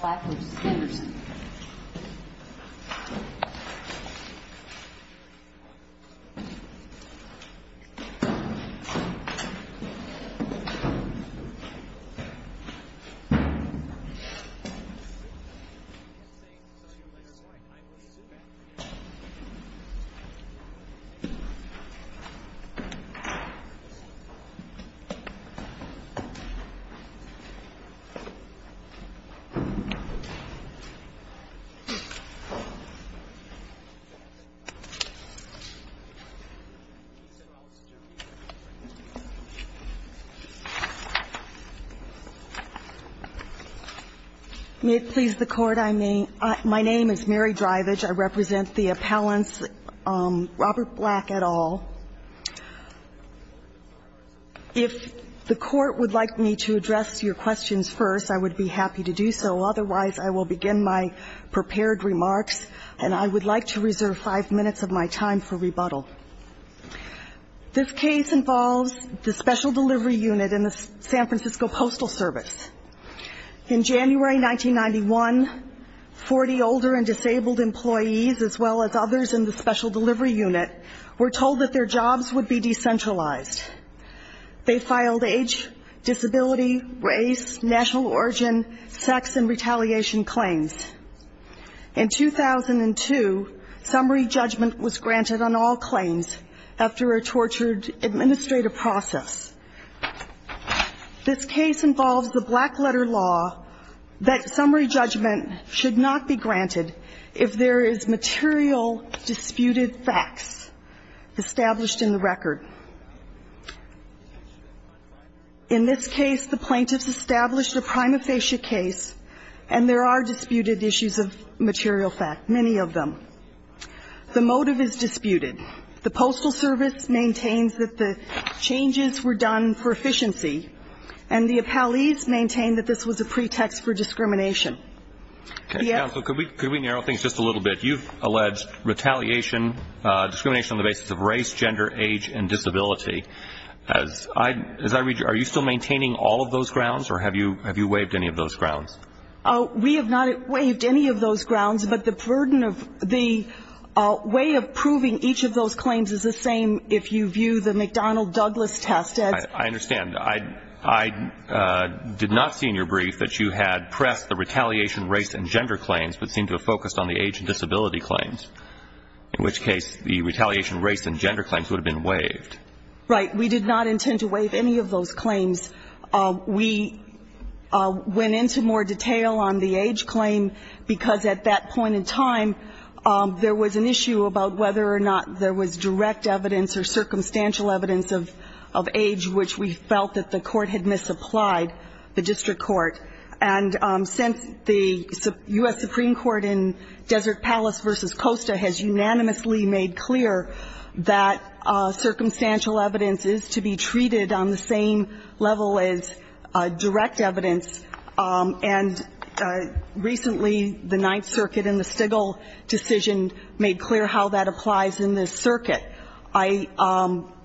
Black v. Henderson May it please the Court, my name is Mary Drivage. I represent the appellants Robert Black et al. If the Court would like me to address your questions first, I would be happy to do so. Otherwise, I will begin my prepared remarks, and I would like to reserve five minutes of my time for rebuttal. This case involves the Special Delivery Unit in the San Francisco Postal Service. In January 1991, 40 older and disabled employees, as well as others in the Special Delivery Unit, were told that their jobs would be decentralized. They filed age, disability, race, national origin, sex, and retaliation claims. In 2002, summary judgment was granted on all claims after a tortured administrative process. This case involves the black-letter law that summary judgment should not be granted if there is material disputed facts established in the record. The plaintiffs established a prima facie case, and there are disputed issues of material fact, many of them. The motive is disputed. The Postal Service maintains that the changes were done for efficiency, and the appellees maintain that this was a pretext for discrimination. Could we narrow things just a little bit? You've alleged retaliation, discrimination on the basis of race, gender, age, and disability. As I read you, are you still maintaining all of those grounds, or have you waived any of those grounds? We have not waived any of those grounds, but the burden of the way of proving each of those claims is the same if you view the McDonnell-Douglas test. I understand. I did not see in your brief that you had pressed the retaliation race and gender claims, but seemed to have focused on the age and disability claims, in which case the retaliation race and gender claims would have been waived. Right. We did not intend to waive any of those claims. We went into more detail on the age claim, because at that point in time, there was an issue about whether or not there was direct evidence or circumstantial evidence of age, which we felt that the court had misapplied, the district court. And since the U.S. Supreme Court in Desert Palace v. Costa has unanimously made clear that circumstantial evidence is to be treated on the same level as direct evidence, and recently the Ninth Circuit in the Stigall decision made clear how that applies in this circuit. I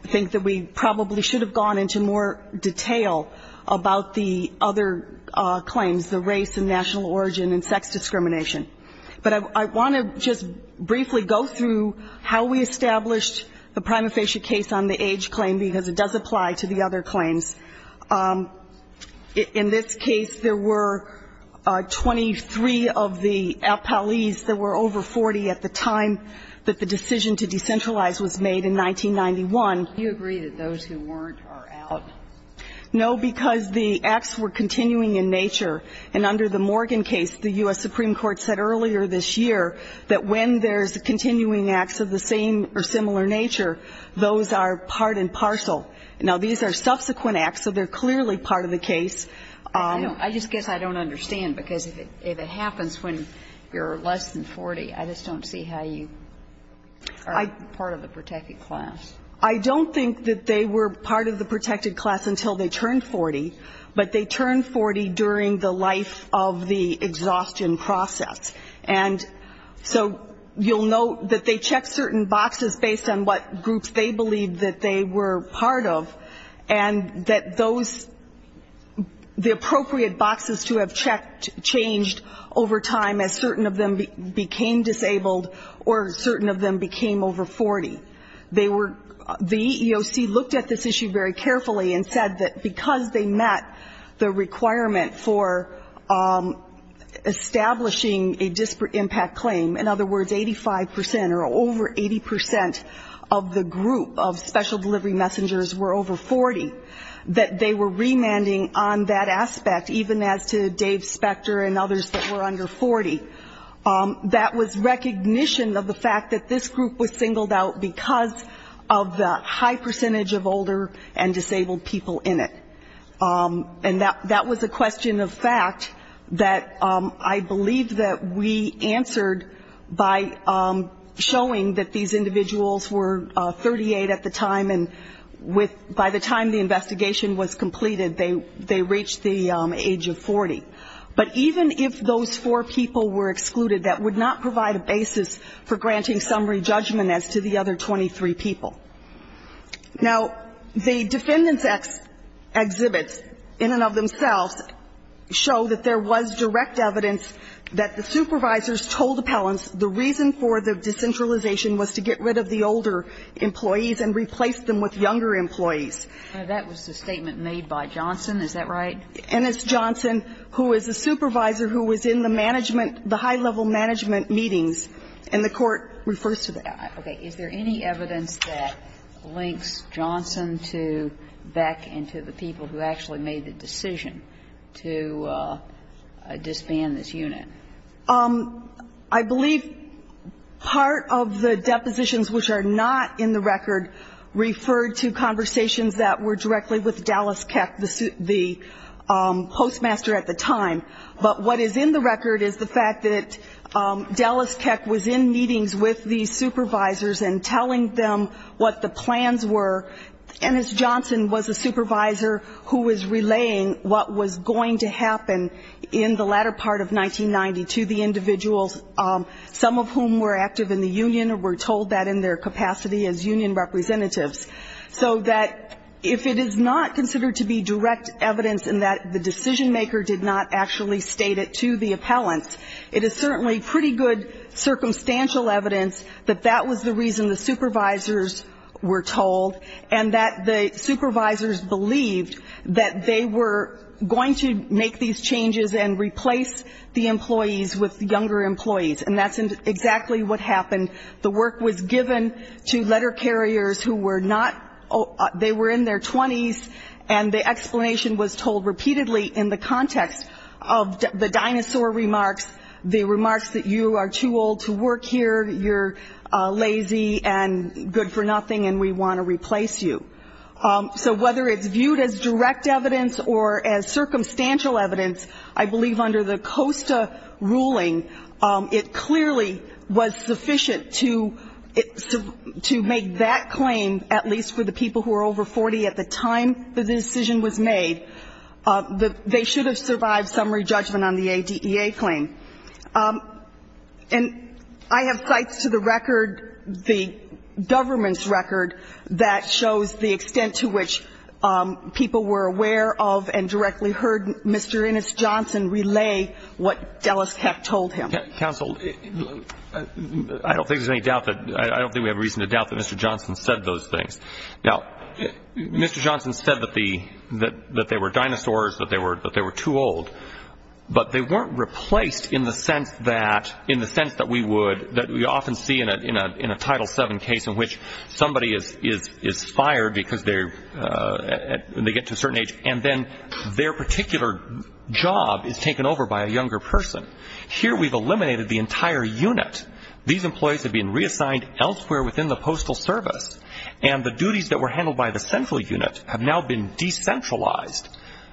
think that we probably should have gone into more detail about the other claims, the race and national origin and sex discrimination. But I want to just briefly go through how we established the prima facie case on the age claim, because it does apply to the other claims. In this case, there were 23 of the appellees. There were over 40 at the time that the decision to decentralize was made in 1991. Do you agree that those who weren't are out? No, because the acts were continuing in nature, and under the Morgan case, the U.S. Supreme Court said earlier this year that when there's continuing acts of the same or similar nature, those are part and parcel. Now, these are subsequent acts, so they're clearly part of the case. I just guess I don't understand, because if it happens when you're less than 40, I just don't see how you are part of the protected class. I don't think that they were part of the protected class until they turned 40, but they turned 40 during the life of the exhaustion process. And so you'll note that they checked certain boxes based on what groups they believed that they were part of, and that those, the appropriate boxes to have checked changed over time as certain of them looked at this issue very carefully and said that because they met the requirement for establishing a disparate impact claim, in other words, 85% or over 80% of the group of special delivery messengers were over 40, that they were remanding on that aspect, even as to Dave Spector and others that were under 40. That was recognition of the fact that this group was singled out because of the high percentage of older and disabled people in it. And that was a question of fact that I believe that we answered by showing that these individuals were 38 at the time, and by the time the investigation was completed, they reached the age of 40. But even if those four people were excluded, that would not provide a satisfactory judgment as to the other 23 people. Now, the defendants' exhibits in and of themselves show that there was direct evidence that the supervisors told appellants the reason for the decentralization was to get rid of the older employees and replace them with younger employees. Now, that was the statement made by Johnson. Is that right? And it's Johnson who is a supervisor who was in the management, the high-level management meetings, and the Court refers to that. Okay. Is there any evidence that links Johnson to Beck and to the people who actually made the decision to disband this unit? I believe part of the depositions which are not in the record referred to conversations that were directly with Dallas Keck, the postmaster at the time. But what is in the record is the fact that Dallas Keck was in meetings with these supervisors and telling them what the plans were, and it's Johnson was a supervisor who was relaying what was going to happen in the latter part of 1990 to the individuals, some of whom were active in the union or were told that in their capacity as union representatives. So that if it is not considered to be direct evidence in that the decision-maker did not actually state it to the appellant, it is certainly pretty good circumstantial evidence that that was the reason the supervisors were told, and that the supervisors believed that they were going to make these changes and replace the employees with younger employees, and that's exactly what happened. The work was given to letter carriers who were not they were in their 20s, and the explanation was told repeatedly in the context of the dinosaur remarks, the remarks that you are too old to work here, you're lazy and good for nothing and we want to replace you. So whether it's viewed as direct evidence or as circumstantial evidence, I believe under the COSTA ruling, it clearly was sufficient to make that claim, at least for the people who were over 40 at the time the decision was made, that they should have survived summary judgment on the ADEA claim. And I have cites to the record, the government's record, that shows the extent to which people were aware of and directly heard Mr. Ennis Johnson relay what Dellis Hecht told him. Counsel, I don't think there's any doubt that Mr. Johnson said those things. Now, Mr. Johnson said that they were dinosaurs, that they were too old, but they weren't replaced in the sense that we would that we often see in a Title VII case in which somebody is fired because they get to a certain age and then their particular job is taken over by a younger person. Here we've eliminated the entire unit. These employees have been reassigned elsewhere within the postal service. And the duties that were handled by the central unit have now been decentralized.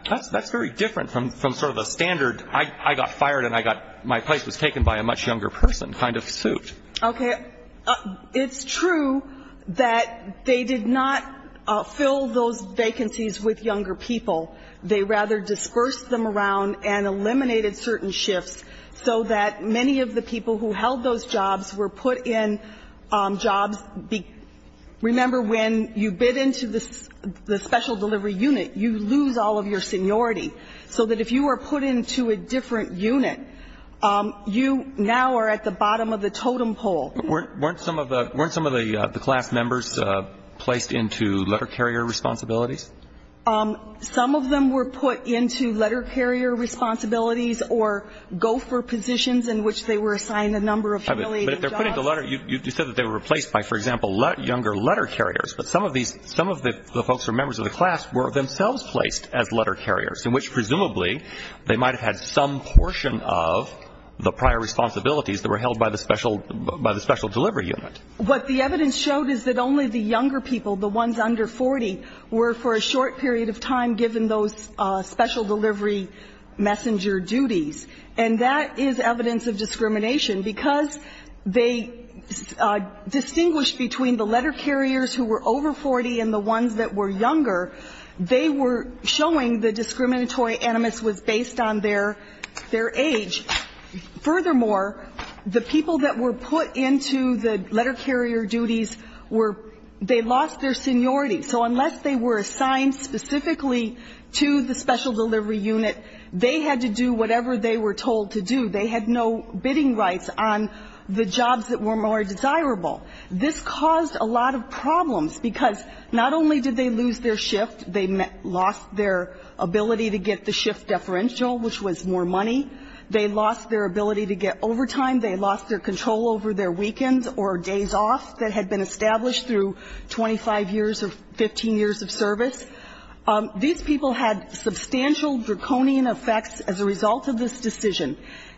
That's very different from sort of a standard I got fired and I got my place was taken by a much younger person kind of suit. Okay. It's true that they did not fill those vacancies with younger people. They rather dispersed them around and eliminated certain shifts so that many of the people who held those vacancies and those jobs were put in jobs. Remember, when you bid into the special delivery unit, you lose all of your seniority, so that if you were put into a different unit, you now are at the bottom of the totem pole. Weren't some of the class members placed into letter carrier responsibilities? Some of them were put into letter carrier responsibilities or gopher positions in which they were assigned a number of jobs. But if they're put into letter, you said that they were replaced by, for example, younger letter carriers. But some of the folks who are members of the class were themselves placed as letter carriers, in which presumably they might have had some portion of the prior responsibilities that were held by the special delivery unit. What the evidence showed is that only the younger people, the ones under 40, were for a short period of time given those special delivery messenger duties. And that is evidence of discrimination because they distinguished between the letter carriers who were over 40 and the ones that were younger. They were showing the discriminatory animus was based on their age. Furthermore, the people that were put into the letter carrier duties were they lost their seniority. So unless they were assigned specifically to the special delivery unit, they had to do whatever they were told to do. They had no bidding rights on the jobs that were more desirable. This caused a lot of problems because not only did they lose their shift, they lost their ability to get the shift deferential, which was more money. They lost their ability to get overtime. They lost their control over their weekends or days off that had been established through 25 years or 15 years of service. These people had substantial draconian effects as a result of this decision.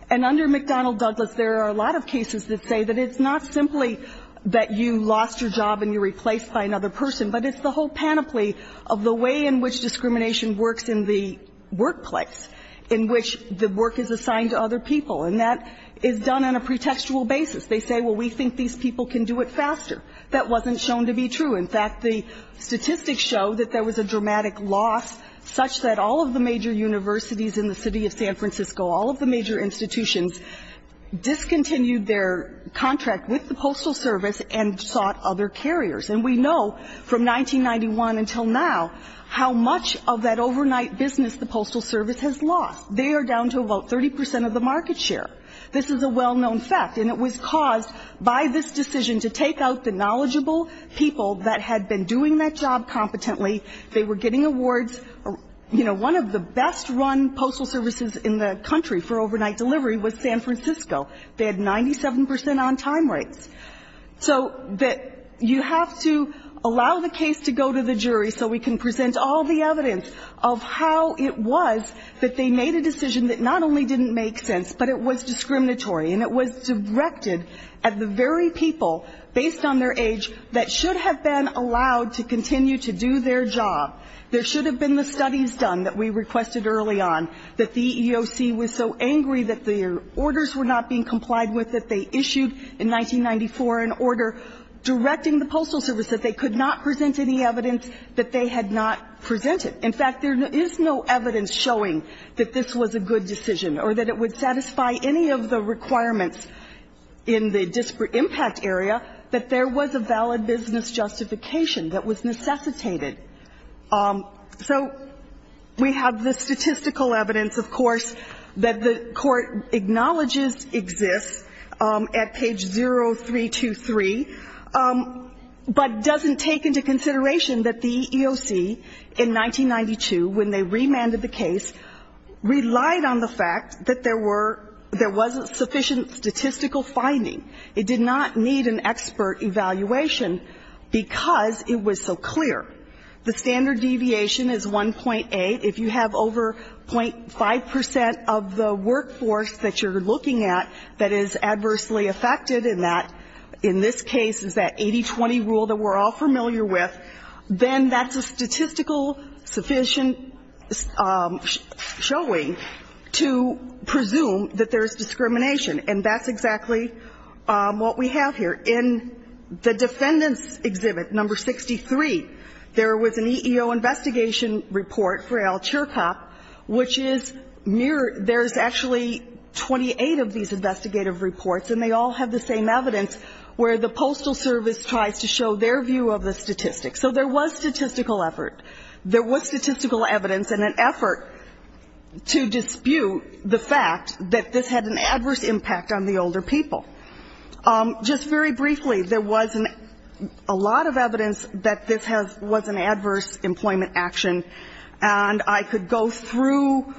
And under McDonnell Douglas, there are a lot of cases that say that it's not simply that you lost your job and you're replaced by another person, but it's the whole panoply of the way in which discrimination works in the workplace, in which the work is assigned to other people. And that is done on a pretextual basis. They say, well, we think these people can do it faster. That wasn't shown to be true. In fact, the statistics show that there was a dramatic loss such that all of the major universities in the city of San Francisco, all of the major institutions, discontinued their contract with the Postal Service and sought other carriers. And we know from 1991 until now how much of that overnight business the Postal Service has lost. They are down to about 30 percent of the market share. This is a well-known fact. And it was caused by this decision to take out the knowledgeable people that had been doing that job competently. They were getting awards. You know, one of the best-run postal services in the country for overnight delivery was San Francisco. They had 97 percent on time rates. So you have to allow the case to go to the jury so we can present all the evidence of how it was that they made a decision that not only didn't make sense, but it was discriminatory and it was directed at the very people based on their age that should have been allowed to continue to do their job. There should have been the studies done that we requested early on that the EEOC was so angry that their orders were not being complied with that they issued in 1994 an order directing the Postal Service that they could not present any evidence that they had not presented. In fact, there is no evidence showing that this was a good decision or that it would satisfy any of the requirements in the disparate impact area that there was a valid business justification that was necessitated. So we have the statistical evidence, of course, that the Court acknowledges exists at page 0323, but doesn't take into consideration that the EEOC in 1992, when they remanded the case, relied on the fact that there were – there wasn't sufficient statistical finding. It did not need an expert evaluation because it was so clear. The standard deviation is 1.8. If you have over 0.5 percent of the workforce that you're looking at that is adversely affected in that – in this case, it's that 80-20 rule that we're all familiar with, then that's a statistical sufficient showing to presume that there's discrimination. And that's exactly what we have here. In the Defendant's Exhibit No. 63, there was an EEO investigation report for Al Chirkop, which is near – there's actually 28 of these investigative reports, and they all have the same evidence, where the Postal Service tries to show their view of the statistics. So there was statistical effort. There was statistical evidence and an effort to dispute the fact that this had an adverse impact on the older people. Just very briefly, there was a lot of evidence that this has – was an adverse employment action, and I could go through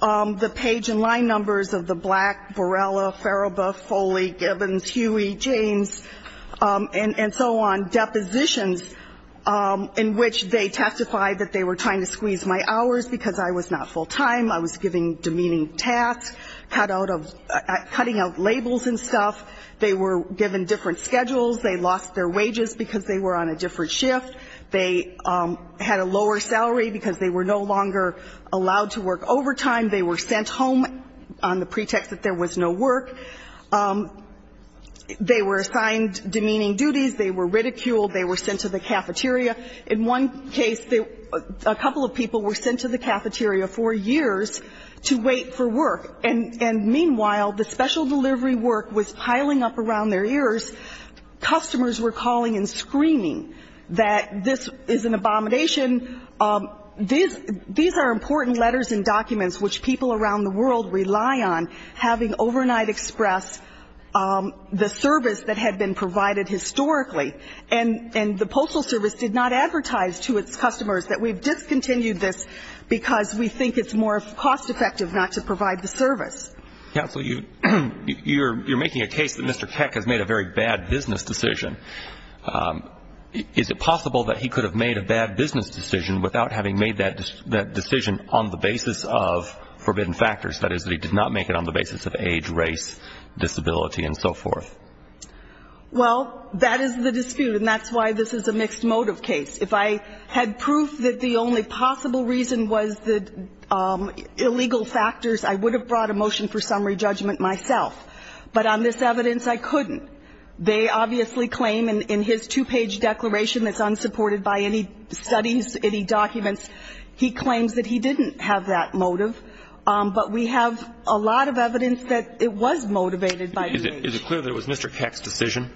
the page and line numbers of the Black, Borrella, Farabaugh, Foley, Gibbons, Huey, James, and so on, depositions in which they testified that they were trying to squeeze my hours because I was not full-time, I was giving demeaning tasks, cut out of – cutting out labels and stuff. They were given different schedules. They lost their wages because they were on a different shift. They had a lower salary because they were no longer allowed to work overtime. They were sent home on the pretext that there was no work. They were assigned demeaning duties. They were ridiculed. They were sent to the cafeteria. In one case, a couple of people were sent to the cafeteria for years to wait for work. And meanwhile, the special delivery work was piling up around their ears. Customers were calling and screaming that this is an abomination. These are important letters and documents which people around the world rely on, having overnight expressed the service that had been provided historically. And the Postal Service did not advertise to its customers that we've discontinued this because we think it's more cost-effective not to provide the service. Counsel, you're making a case that Mr. Keck has made a very bad business decision. Is it possible that he could have made a bad business decision without having made that decision on the basis of forbidden factors, that is that he did not make it on the basis of age, race, disability, and so forth? Well, that is the dispute, and that's why this is a mixed motive case. If I had proof that the only possible reason was the illegal factors, I would have brought a motion for summary judgment myself. But on this evidence, I couldn't. They obviously claim in his two-page declaration that's unsupported by any studies, any documents, he claims that he didn't have that motive. But we have a lot of evidence that it was motivated by age. Is it clear that it was Mr. Keck's decision?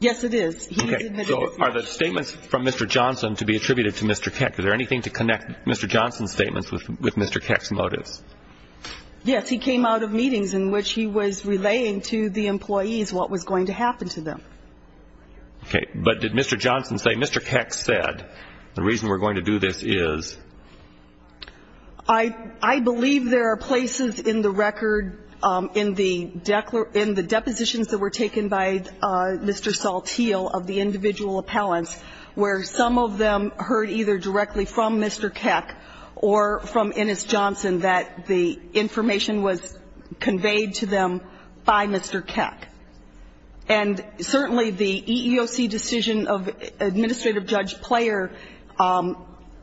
Yes, it is. Okay. So are the statements from Mr. Johnson to be attributed to Mr. Keck? Yes, he came out of meetings in which he was relaying to the employees what was going to happen to them. Okay. But did Mr. Johnson say, Mr. Keck said, the reason we're going to do this is? I believe there are places in the record, in the depositions that were taken by Mr. Saltil, of the individual appellants, where some of them heard either directly from Mr. Keck or from Ennis Johnson that the information was conveyed to them by Mr. Keck. And certainly the EEOC decision of administrative judge Player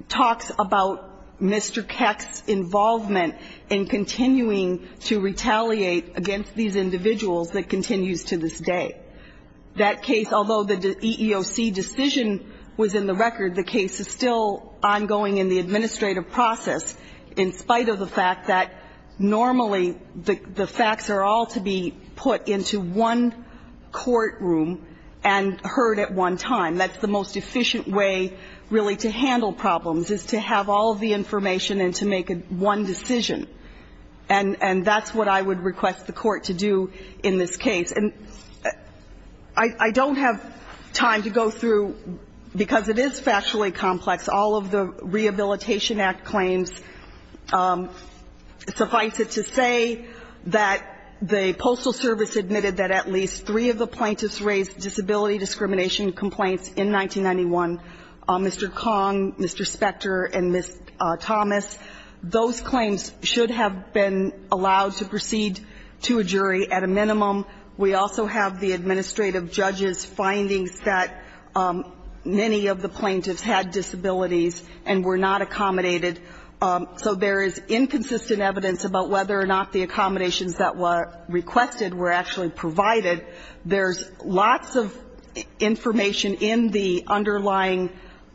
talks about Mr. Keck's involvement in continuing to retaliate against these individuals that continues to this day. That case, although the EEOC decision was in the record, the case is still ongoing in the administrative process in spite of the fact that normally the facts are all to be put into one courtroom and heard at one time. That's the most efficient way really to handle problems is to have all the information and to make one decision. And that's what I would request the Court to do in this case. And I don't have time to go through, because it is factually complex, all of the Rehabilitation Act claims. Suffice it to say that the Postal Service admitted that at least three of the plaintiffs raised disability discrimination complaints in 1991, Mr. Kong, Mr. Specter, and Ms. Thomas. Those claims should have been allowed to proceed to a jury at a minimum. We also have the administrative judge's findings that many of the plaintiffs had disabilities and were not accommodated. So there is inconsistent evidence about whether or not the accommodations that were requested were actually provided. There's lots of information in the underlying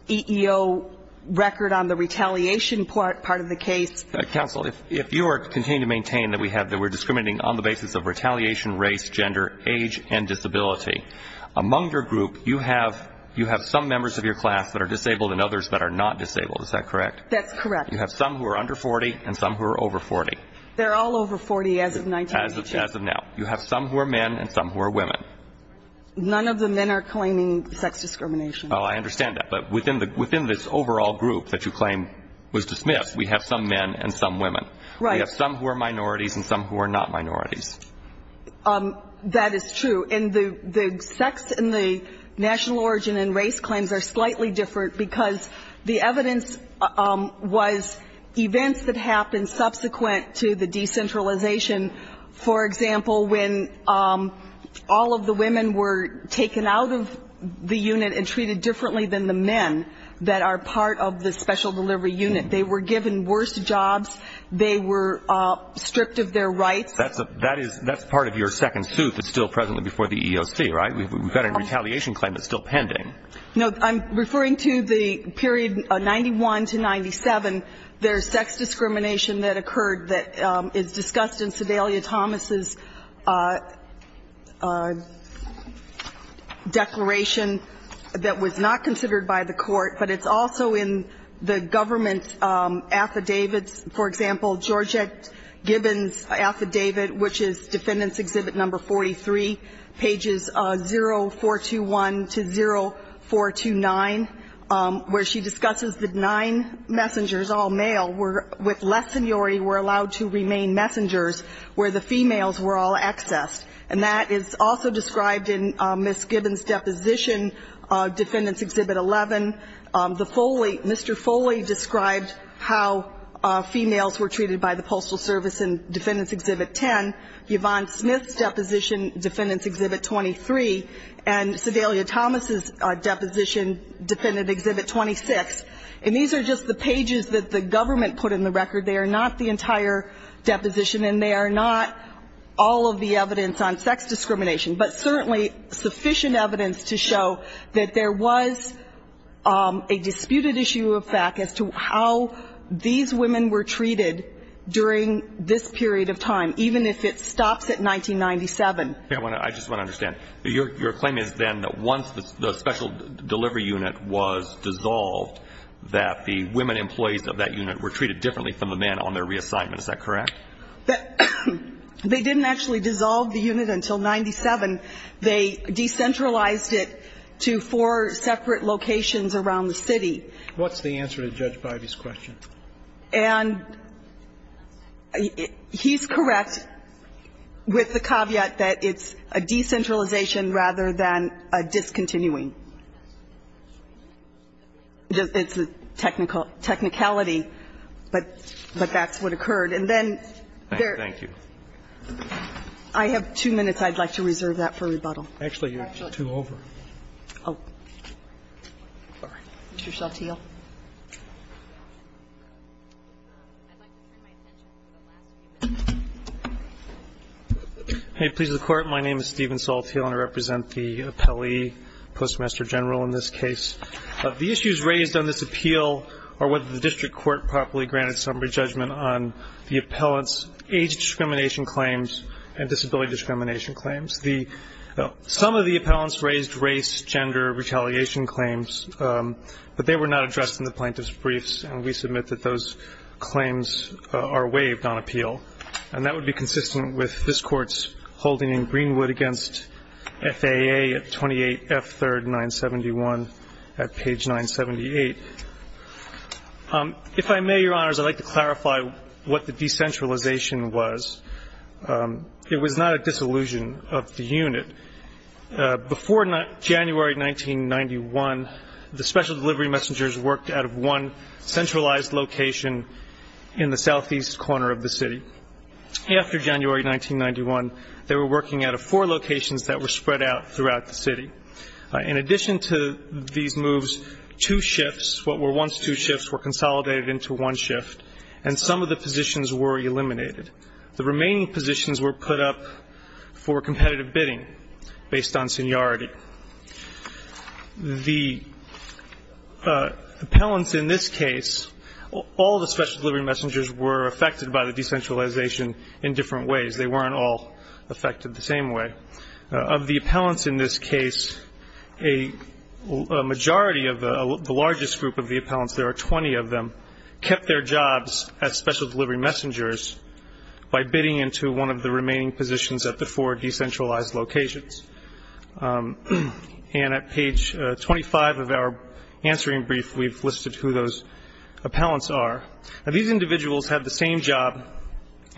EEO record on the retaliation part of the case. Counsel, if you are continuing to maintain that we're discriminating on the basis of retaliation, race, gender, age, and disability, among your group, you have some members of your class that are disabled and others that are not disabled. Is that correct? That's correct. You have some who are under 40 and some who are over 40. They're all over 40 as of 1982. As of now. You have some who are men and some who are women. None of the men are claiming sex discrimination. Oh, I understand that. But within this overall group that you claim was dismissed, we have some men and some women. Right. We have some who are minorities and some who are not minorities. That is true. And the sex and the national origin and race claims are slightly different because the evidence was events that happened subsequent to the decentralization. For example, when all of the women were taken out of the unit and treated differently than the men that are part of the special delivery unit. They were given worse jobs. They were stripped of their rights. That's part of your second suit that's still presently before the EEOC, right? We've got a retaliation claim that's still pending. No. I'm referring to the period 91 to 97. There's sex discrimination that occurred that is discussed in Sedalia Thomas's declaration that was not considered by the court, but it's also in the government's affidavits. For example, Georgette Gibbons' affidavit, which is Defendant's Exhibit Number 43, pages 0421 to 0429, where she discusses that nine messengers, all male, with less seniority, were allowed to remain messengers where the females were all accessed. And that is also described in Ms. Gibbons' deposition, Defendant's Exhibit 11. The Foley, Mr. Foley described how females were treated by the Postal Service in Defendant's Exhibit 10. Yvonne Smith's deposition, Defendant's Exhibit 23. And Sedalia Thomas's deposition, Defendant's Exhibit 26. And these are just the pages that the government put in the record. They are not the entire deposition, and they are not all of the evidence on sex discrimination, but certainly sufficient evidence to show that there was a disputed issue of fact as to how these women were treated during this period of time, even if it stops at 1997. I just want to understand. Your claim is then that once the special delivery unit was dissolved, that the women employees of that unit were treated differently from the men on their reassignment. Is that correct? They didn't actually dissolve the unit until 1997. They decentralized it to four separate locations around the city. What's the answer to Judge Bivey's question? And he's correct with the caveat that it's a decentralization rather than a discontinuing. It's a technicality, but that's what occurred. And then there are. Thank you. I have two minutes. I'd like to reserve that for rebuttal. Actually, you're two over. Oh. Sorry. Mr. Salteel. I'd like to turn my attention to the last case. Hey, please, the Court. My name is Steven Salteel, and I represent the appellee, Postmaster General, in this case. The issues raised on this appeal are whether the district court properly granted summary judgment on the appellant's age discrimination claims and disability discrimination claims. Some of the appellants raised race, gender, retaliation claims, but they were not addressed in the plaintiff's briefs, and we submit that those claims are waived on appeal. And that would be consistent with this Court's holding in Greenwood against FAA at 28F3rd 971 at page 978. If I may, Your Honors, I'd like to clarify what the decentralization was. It was not a disillusion of the unit. Before January 1991, the special delivery messengers worked out of one centralized location in the southeast corner of the city. After January 1991, they were working out of four locations that were spread out throughout the city. In addition to these moves, two shifts, what were once two shifts, were consolidated into one shift, and some of the positions were eliminated. The remaining positions were put up for competitive bidding based on seniority. The appellants in this case, all the special delivery messengers were affected by the decentralization in different ways. They weren't all affected the same way. Of the appellants in this case, a majority of the largest group of the appellants, there are 20 of them, kept their jobs as special delivery messengers by bidding into one of the remaining positions at the four decentralized locations. And at page 25 of our answering brief, we've listed who those appellants are. Now, these individuals had the same job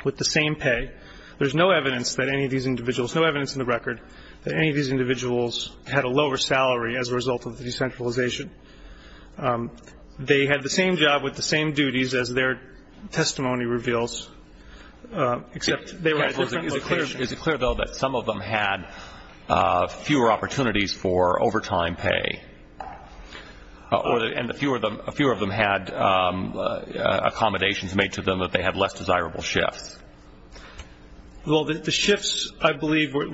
with the same pay. There's no evidence that any of these individuals, no evidence in the record, that any of these individuals had a lower salary as a result of the decentralization. They had the same job with the same duties as their testimony reveals, except they were at different locations. Is it clear, though, that some of them had fewer opportunities for overtime pay, and fewer of them had accommodations made to them that they had less desirable shifts? Well, the shifts, I believe, there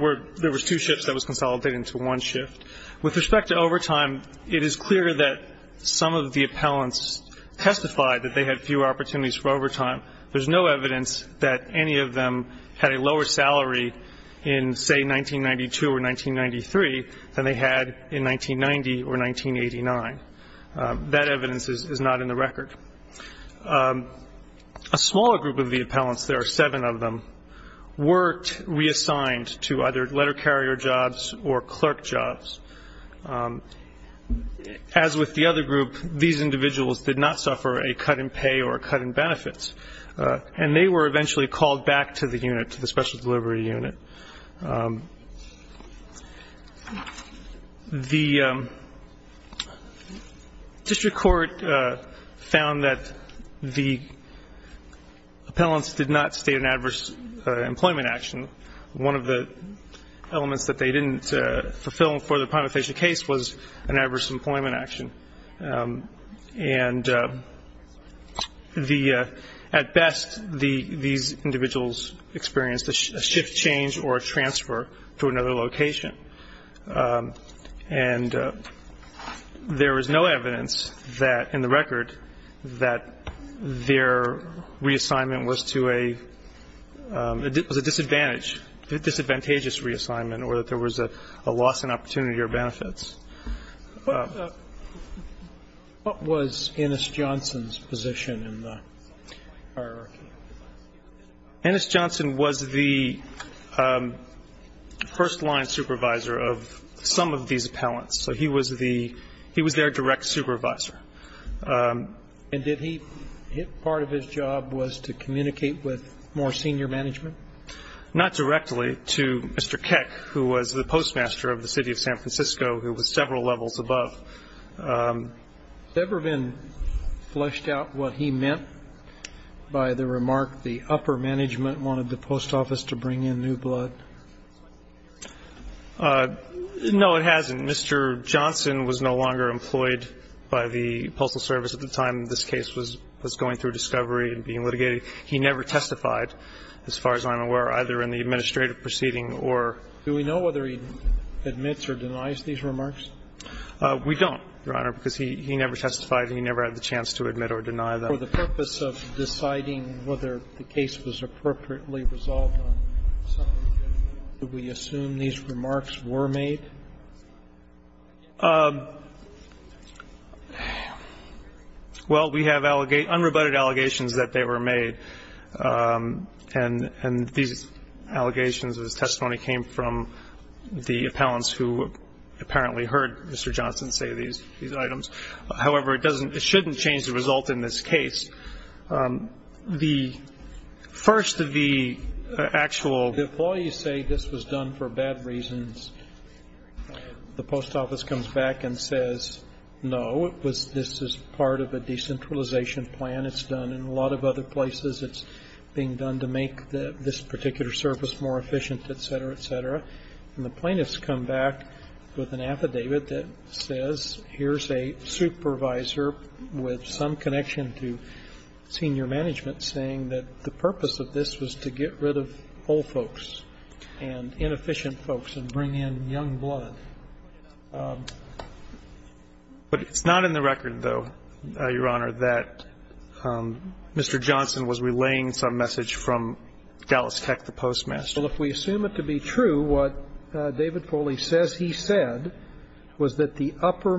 were two shifts that was consolidated into one shift. With respect to overtime, it is clear that some of the appellants testified that they had fewer opportunities for overtime. There's no evidence that any of them had a lower salary in, say, 1992 or 1993 than they had in 1990 or 1989. That evidence is not in the record. A smaller group of the appellants, there are seven of them, worked reassigned to either letter carrier jobs or clerk jobs. As with the other group, these individuals did not suffer a cut in pay or a cut in benefits, and they were eventually called back to the unit, to the special delivery unit. The district court found that the appellants did not state an adverse employment action. One of the elements that they didn't fulfill for the prima facie case was an adverse employment action. And at best, these individuals experienced a shift change or a transfer to another location. And there is no evidence in the record that their reassignment was a disadvantage, a disadvantageous reassignment, or that there was a loss in opportunity or benefits. What was Ennis Johnson's position in the hierarchy? Ennis Johnson was the first-line supervisor of some of these appellants. So he was the he was their direct supervisor. And did he part of his job was to communicate with more senior management? Not directly to Mr. Keck, who was the postmaster of the city of San Francisco, who was several levels above. Has it ever been fleshed out what he meant by the remark, the upper management wanted the post office to bring in new blood? No, it hasn't. Mr. Johnson was no longer employed by the Postal Service at the time this case was going through discovery and being litigated. He never testified, as far as I'm aware, either in the administrative proceeding or Do we know whether he admits or denies these remarks? We don't, Your Honor, because he never testified and he never had the chance to admit or deny them. For the purpose of deciding whether the case was appropriately resolved, do we assume these remarks were made? Well, we have unrebutted allegations that they were made. And these allegations of his testimony came from the appellants who apparently heard Mr. Johnson say these items. However, it shouldn't change the result in this case. The first of the actual The employees say this was done for bad reasons. The post office comes back and says, no, this is part of a decentralization plan. It's done in a lot of other places. It's being done to make this particular service more efficient, et cetera, et cetera. And the plaintiffs come back with an affidavit that says here's a supervisor with some connection to senior management saying that the purpose of this was to get rid of old folks and inefficient folks and bring in young blood. But it's not in the record, though, Your Honor, that Mr. Johnson was relaying some message from Dallas Tech, the postmaster. Well, if we assume it to be true, what David Foley says he said was that the upper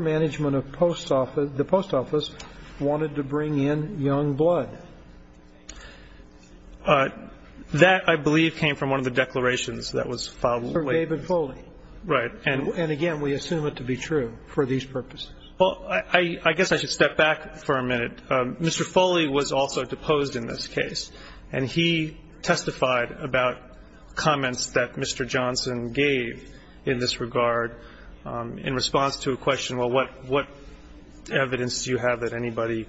That, I believe, came from one of the declarations that was filed. Sir David Foley. Right. And again, we assume it to be true for these purposes. Well, I guess I should step back for a minute. Mr. Foley was also deposed in this case, and he testified about comments that Mr. Johnson gave in this regard in response to a question, well, what evidence do you have that anybody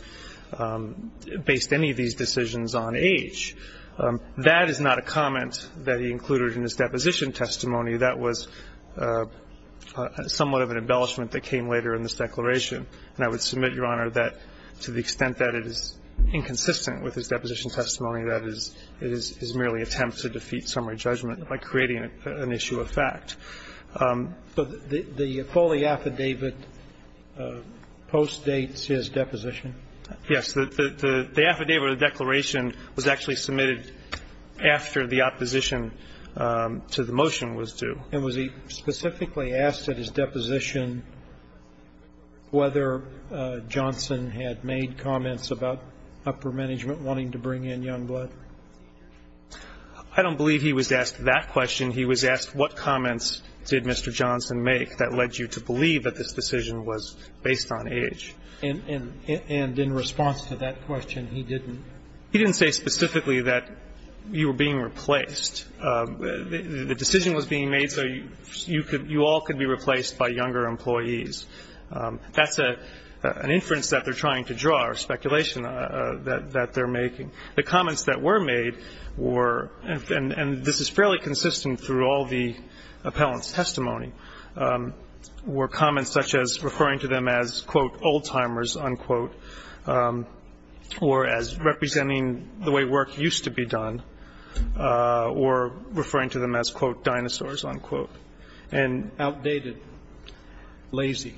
based any of these decisions on age? That is not a comment that he included in his deposition testimony. That was somewhat of an embellishment that came later in this declaration. And I would submit, Your Honor, that to the extent that it is inconsistent with his deposition testimony, that is merely an attempt to defeat summary judgment by creating an issue of fact. So the Foley affidavit postdates his deposition? Yes. The affidavit or the declaration was actually submitted after the opposition to the motion was due. And was he specifically asked at his deposition whether Johnson had made comments about upper management wanting to bring in Youngblood? I don't believe he was asked that question. He was asked what comments did Mr. Johnson make that led you to believe that this decision was based on age. And in response to that question, he didn't? He didn't say specifically that you were being replaced. The decision was being made so you all could be replaced by younger employees. That's an inference that they're trying to draw or speculation that they're making. The comments that were made were, and this is fairly consistent through all the appellant's testimony, were comments such as referring to them as, quote, old timers, unquote, or as representing the way work used to be done, or referring to them as, quote, dinosaurs, unquote. And outdated, lazy.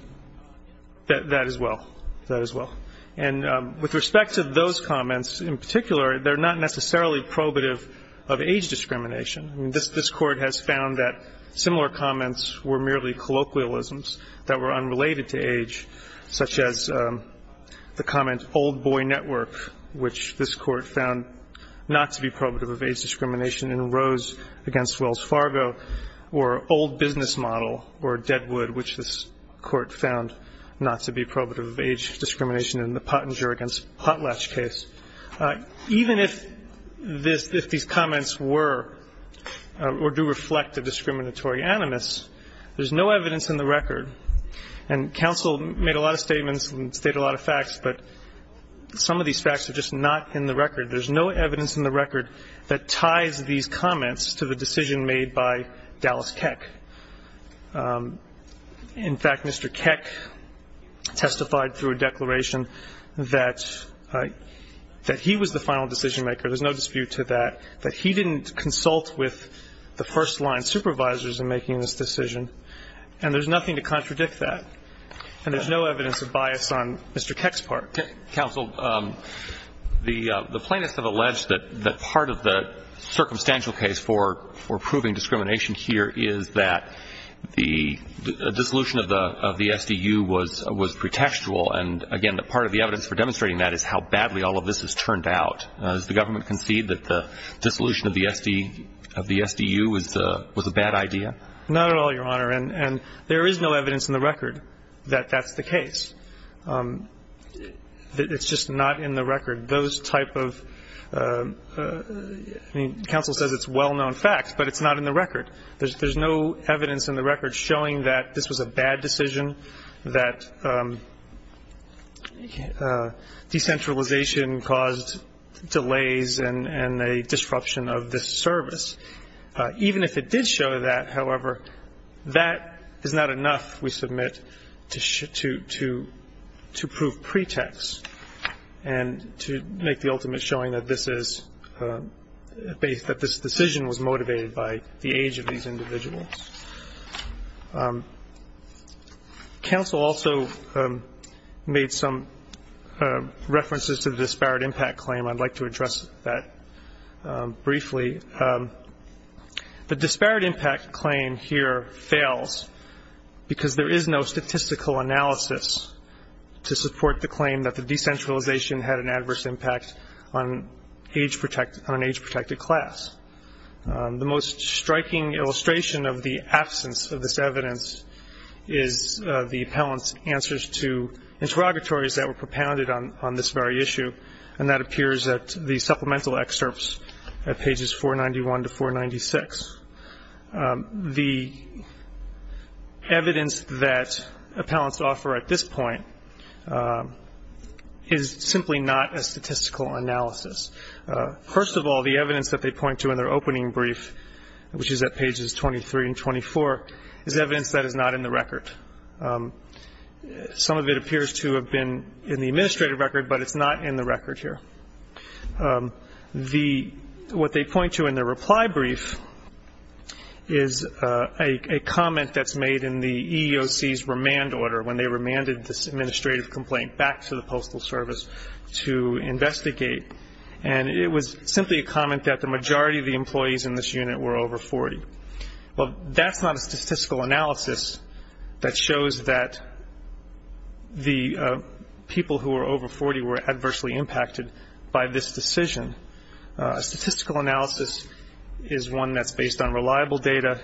That as well. That as well. And with respect to those comments in particular, they're not necessarily probative of age discrimination. I mean, this Court has found that similar comments were merely colloquialisms that were unrelated to age, such as the comment, old boy network, which this Court found not to be probative of age discrimination in Rose against Wells Fargo, or old business model, or Deadwood, which this Court found not to be probative of age discrimination in the Pottinger against Potlatch case. Even if these comments were or do reflect a discriminatory animus, there's no evidence in the record, and counsel made a lot of statements and stated a lot of facts, but some of these facts are just not in the record. There's no evidence in the record that ties these comments to the decision made by Dallas Keck. In fact, Mr. Keck testified through a declaration that he was the final decision maker. There's no dispute to that, that he didn't consult with the first-line supervisors in making this decision. And there's nothing to contradict that. And there's no evidence of bias on Mr. Keck's part. Counsel, the plaintiffs have alleged that part of the circumstantial case for proving discrimination here is that the dissolution of the SDU was pretextual. And again, part of the evidence for demonstrating that is how badly all of this has turned out. Does the government concede that the dissolution of the SDU was a bad idea? Not at all, Your Honor. And there is no evidence in the record that that's the case. It's just not in the record. Those type of ‑‑ I mean, counsel says it's well-known facts, but it's not in the record. There's no evidence in the record showing that this was a bad decision, that decentralization caused delays and a disruption of this service. Even if it did show that, however, that is not enough, we submit, to prove pretext and to make the ultimate showing that this decision was motivated by the age of these individuals. Counsel also made some references to the disparate impact claim. I'd like to address that briefly. The disparate impact claim here fails because there is no statistical analysis to support the claim that the decentralization had an adverse impact on an age‑protected class. The most striking illustration of the absence of this evidence is the appellant's answers to interrogatories that were propounded on this very issue, and that appears at the supplemental excerpts at pages 491 to 496. The evidence that appellants offer at this point is simply not a statistical analysis. First of all, the evidence that they point to in their opening brief, which is at pages 23 and 24, is evidence that is not in the record. Some of it appears to have been in the administrative record, but it's not in the record here. What they point to in their reply brief is a comment that's made in the EEOC's remand order when they remanded this administrative complaint back to the Postal Service to investigate, and it was simply a comment that the majority of the employees in this unit were over 40. Well, that's not a statistical analysis that shows that the people who were over 40 were adversely impacted by this decision. A statistical analysis is one that's based on reliable data.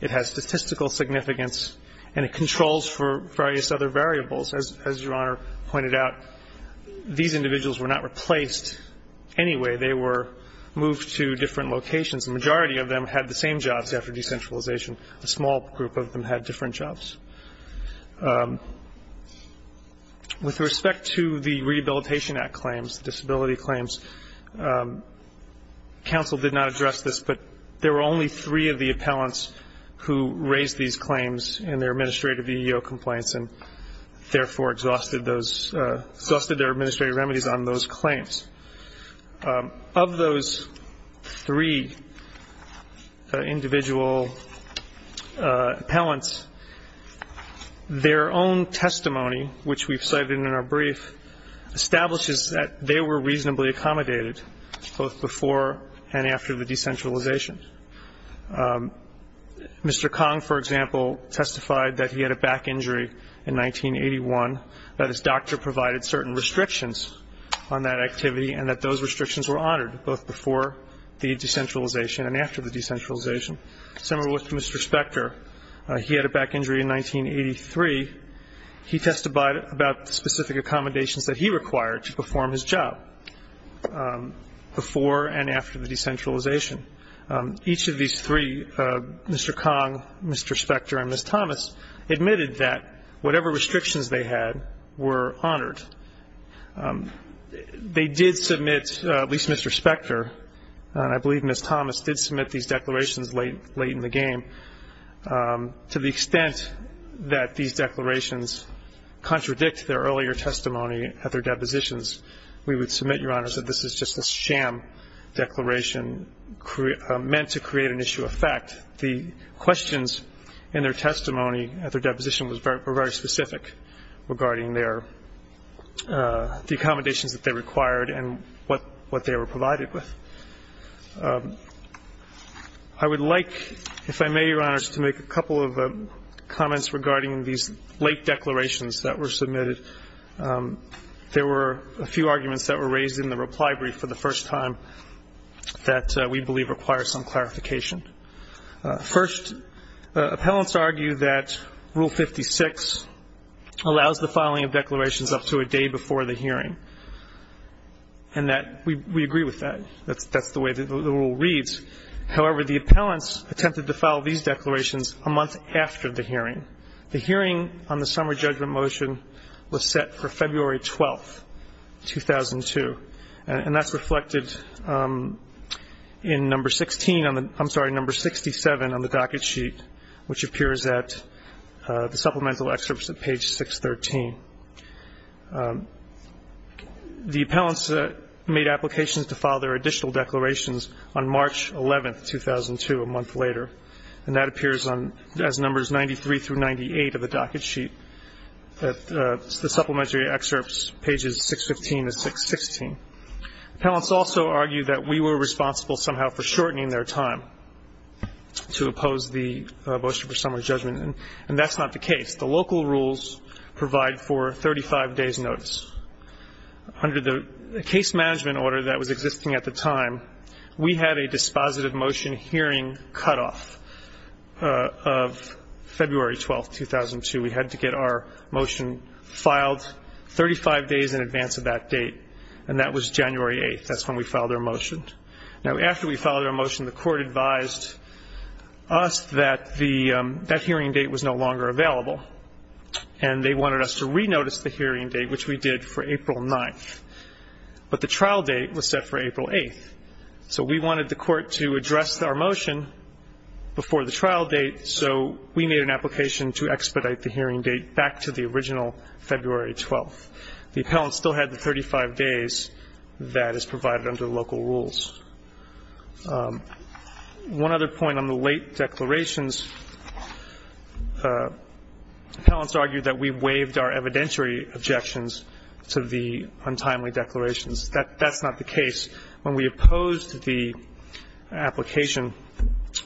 It has statistical significance, and it controls for various other variables. As Your Honor pointed out, these individuals were not replaced anyway. They were moved to different locations. The majority of them had the same jobs after decentralization. A small group of them had different jobs. With respect to the Rehabilitation Act claims, disability claims, counsel did not address this, but there were only three of the appellants who raised these claims in their administrative EEO complaints and therefore exhausted their administrative remedies on those claims. Of those three individual appellants, their own testimony, which we've cited in our brief, establishes that they were reasonably accommodated both before and after the decentralization. Mr. Kong, for example, testified that he had a back injury in 1981, that his doctor provided certain restrictions on that activity, and that those restrictions were honored both before the decentralization and after the decentralization. Similar with Mr. Spector, he had a back injury in 1983. He testified about the specific accommodations that he required to perform his job before and after the decentralization. Each of these three, Mr. Kong, Mr. Spector, and Ms. Thomas, admitted that whatever restrictions they had were honored. They did submit, at least Mr. Spector, and I believe Ms. Thomas did submit these declarations late in the game, to the extent that these declarations contradict their earlier testimony at their depositions. We would submit, Your Honors, that this is just a sham declaration meant to create an issue of fact. The questions in their testimony at their deposition were very specific regarding the accommodations that they required and what they were provided with. I would like, if I may, Your Honors, to make a couple of comments regarding these late declarations that were submitted. There were a few arguments that were raised in the reply brief for the first time that we believe require some clarification. First, appellants argue that Rule 56 allows the filing of declarations up to a day before the hearing, and that we agree with that. That's the way the rule reads. However, the appellants attempted to file these declarations a month after the hearing. The hearing on the summer judgment motion was set for February 12, 2002, and that's reflected in number 67 on the docket sheet, which appears at the supplemental excerpts at page 613. The appellants made applications to file their additional declarations on March 11, 2002, a month later, and that appears as numbers 93 through 98 of the docket sheet. The supplementary excerpts, pages 615 to 616. Appellants also argue that we were responsible somehow for shortening their time to oppose the motion for summer judgment, and that's not the case. The local rules provide for 35 days' notice. Under the case management order that was existing at the time, we had a dispositive motion hearing cutoff of February 12, 2002. We had to get our motion filed 35 days in advance of that date, and that was January 8. That's when we filed our motion. Now, after we filed our motion, the court advised us that that hearing date was no longer available, and they wanted us to re-notice the hearing date, which we did for April 9. But the trial date was set for April 8, so we wanted the court to address our motion before the trial date, so we made an application to expedite the hearing date back to the original February 12. The appellants still had the 35 days that is provided under local rules. One other point on the late declarations, appellants argued that we waived our evidentiary objections to the untimely declarations. That's not the case. When we opposed the application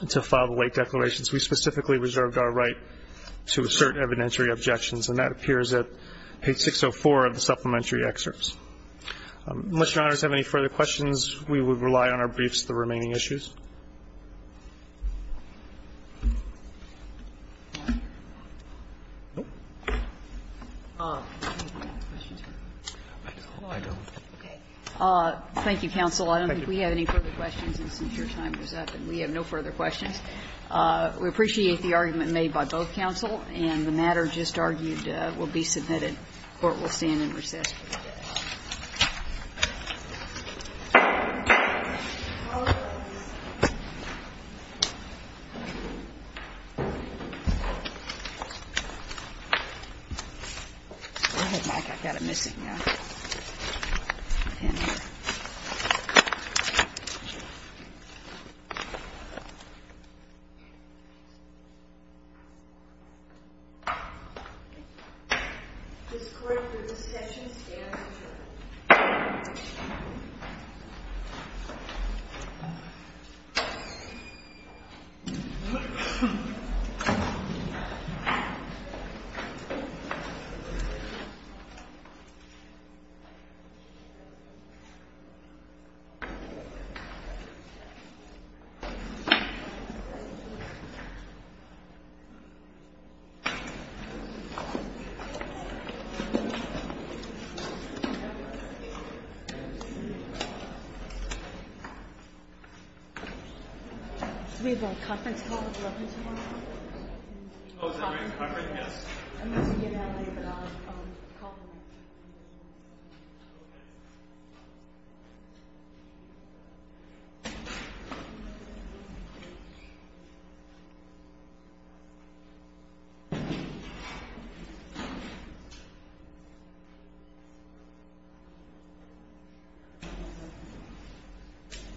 to file the late declarations, we specifically reserved our right to assert evidentiary objections, and that appears at page 604 of the supplementary excerpts. Unless Your Honors have any further questions, we would rely on our briefs to the remaining Thank you, counsel. I don't think we have any further questions. And since your time is up, we have no further questions. We appreciate the argument made by both counsel, and the matter just argued will be submitted. Court will stand in recess. Thank you, counsel. Thank you, counsel. Thank you, counsel. Thank you. Thank you.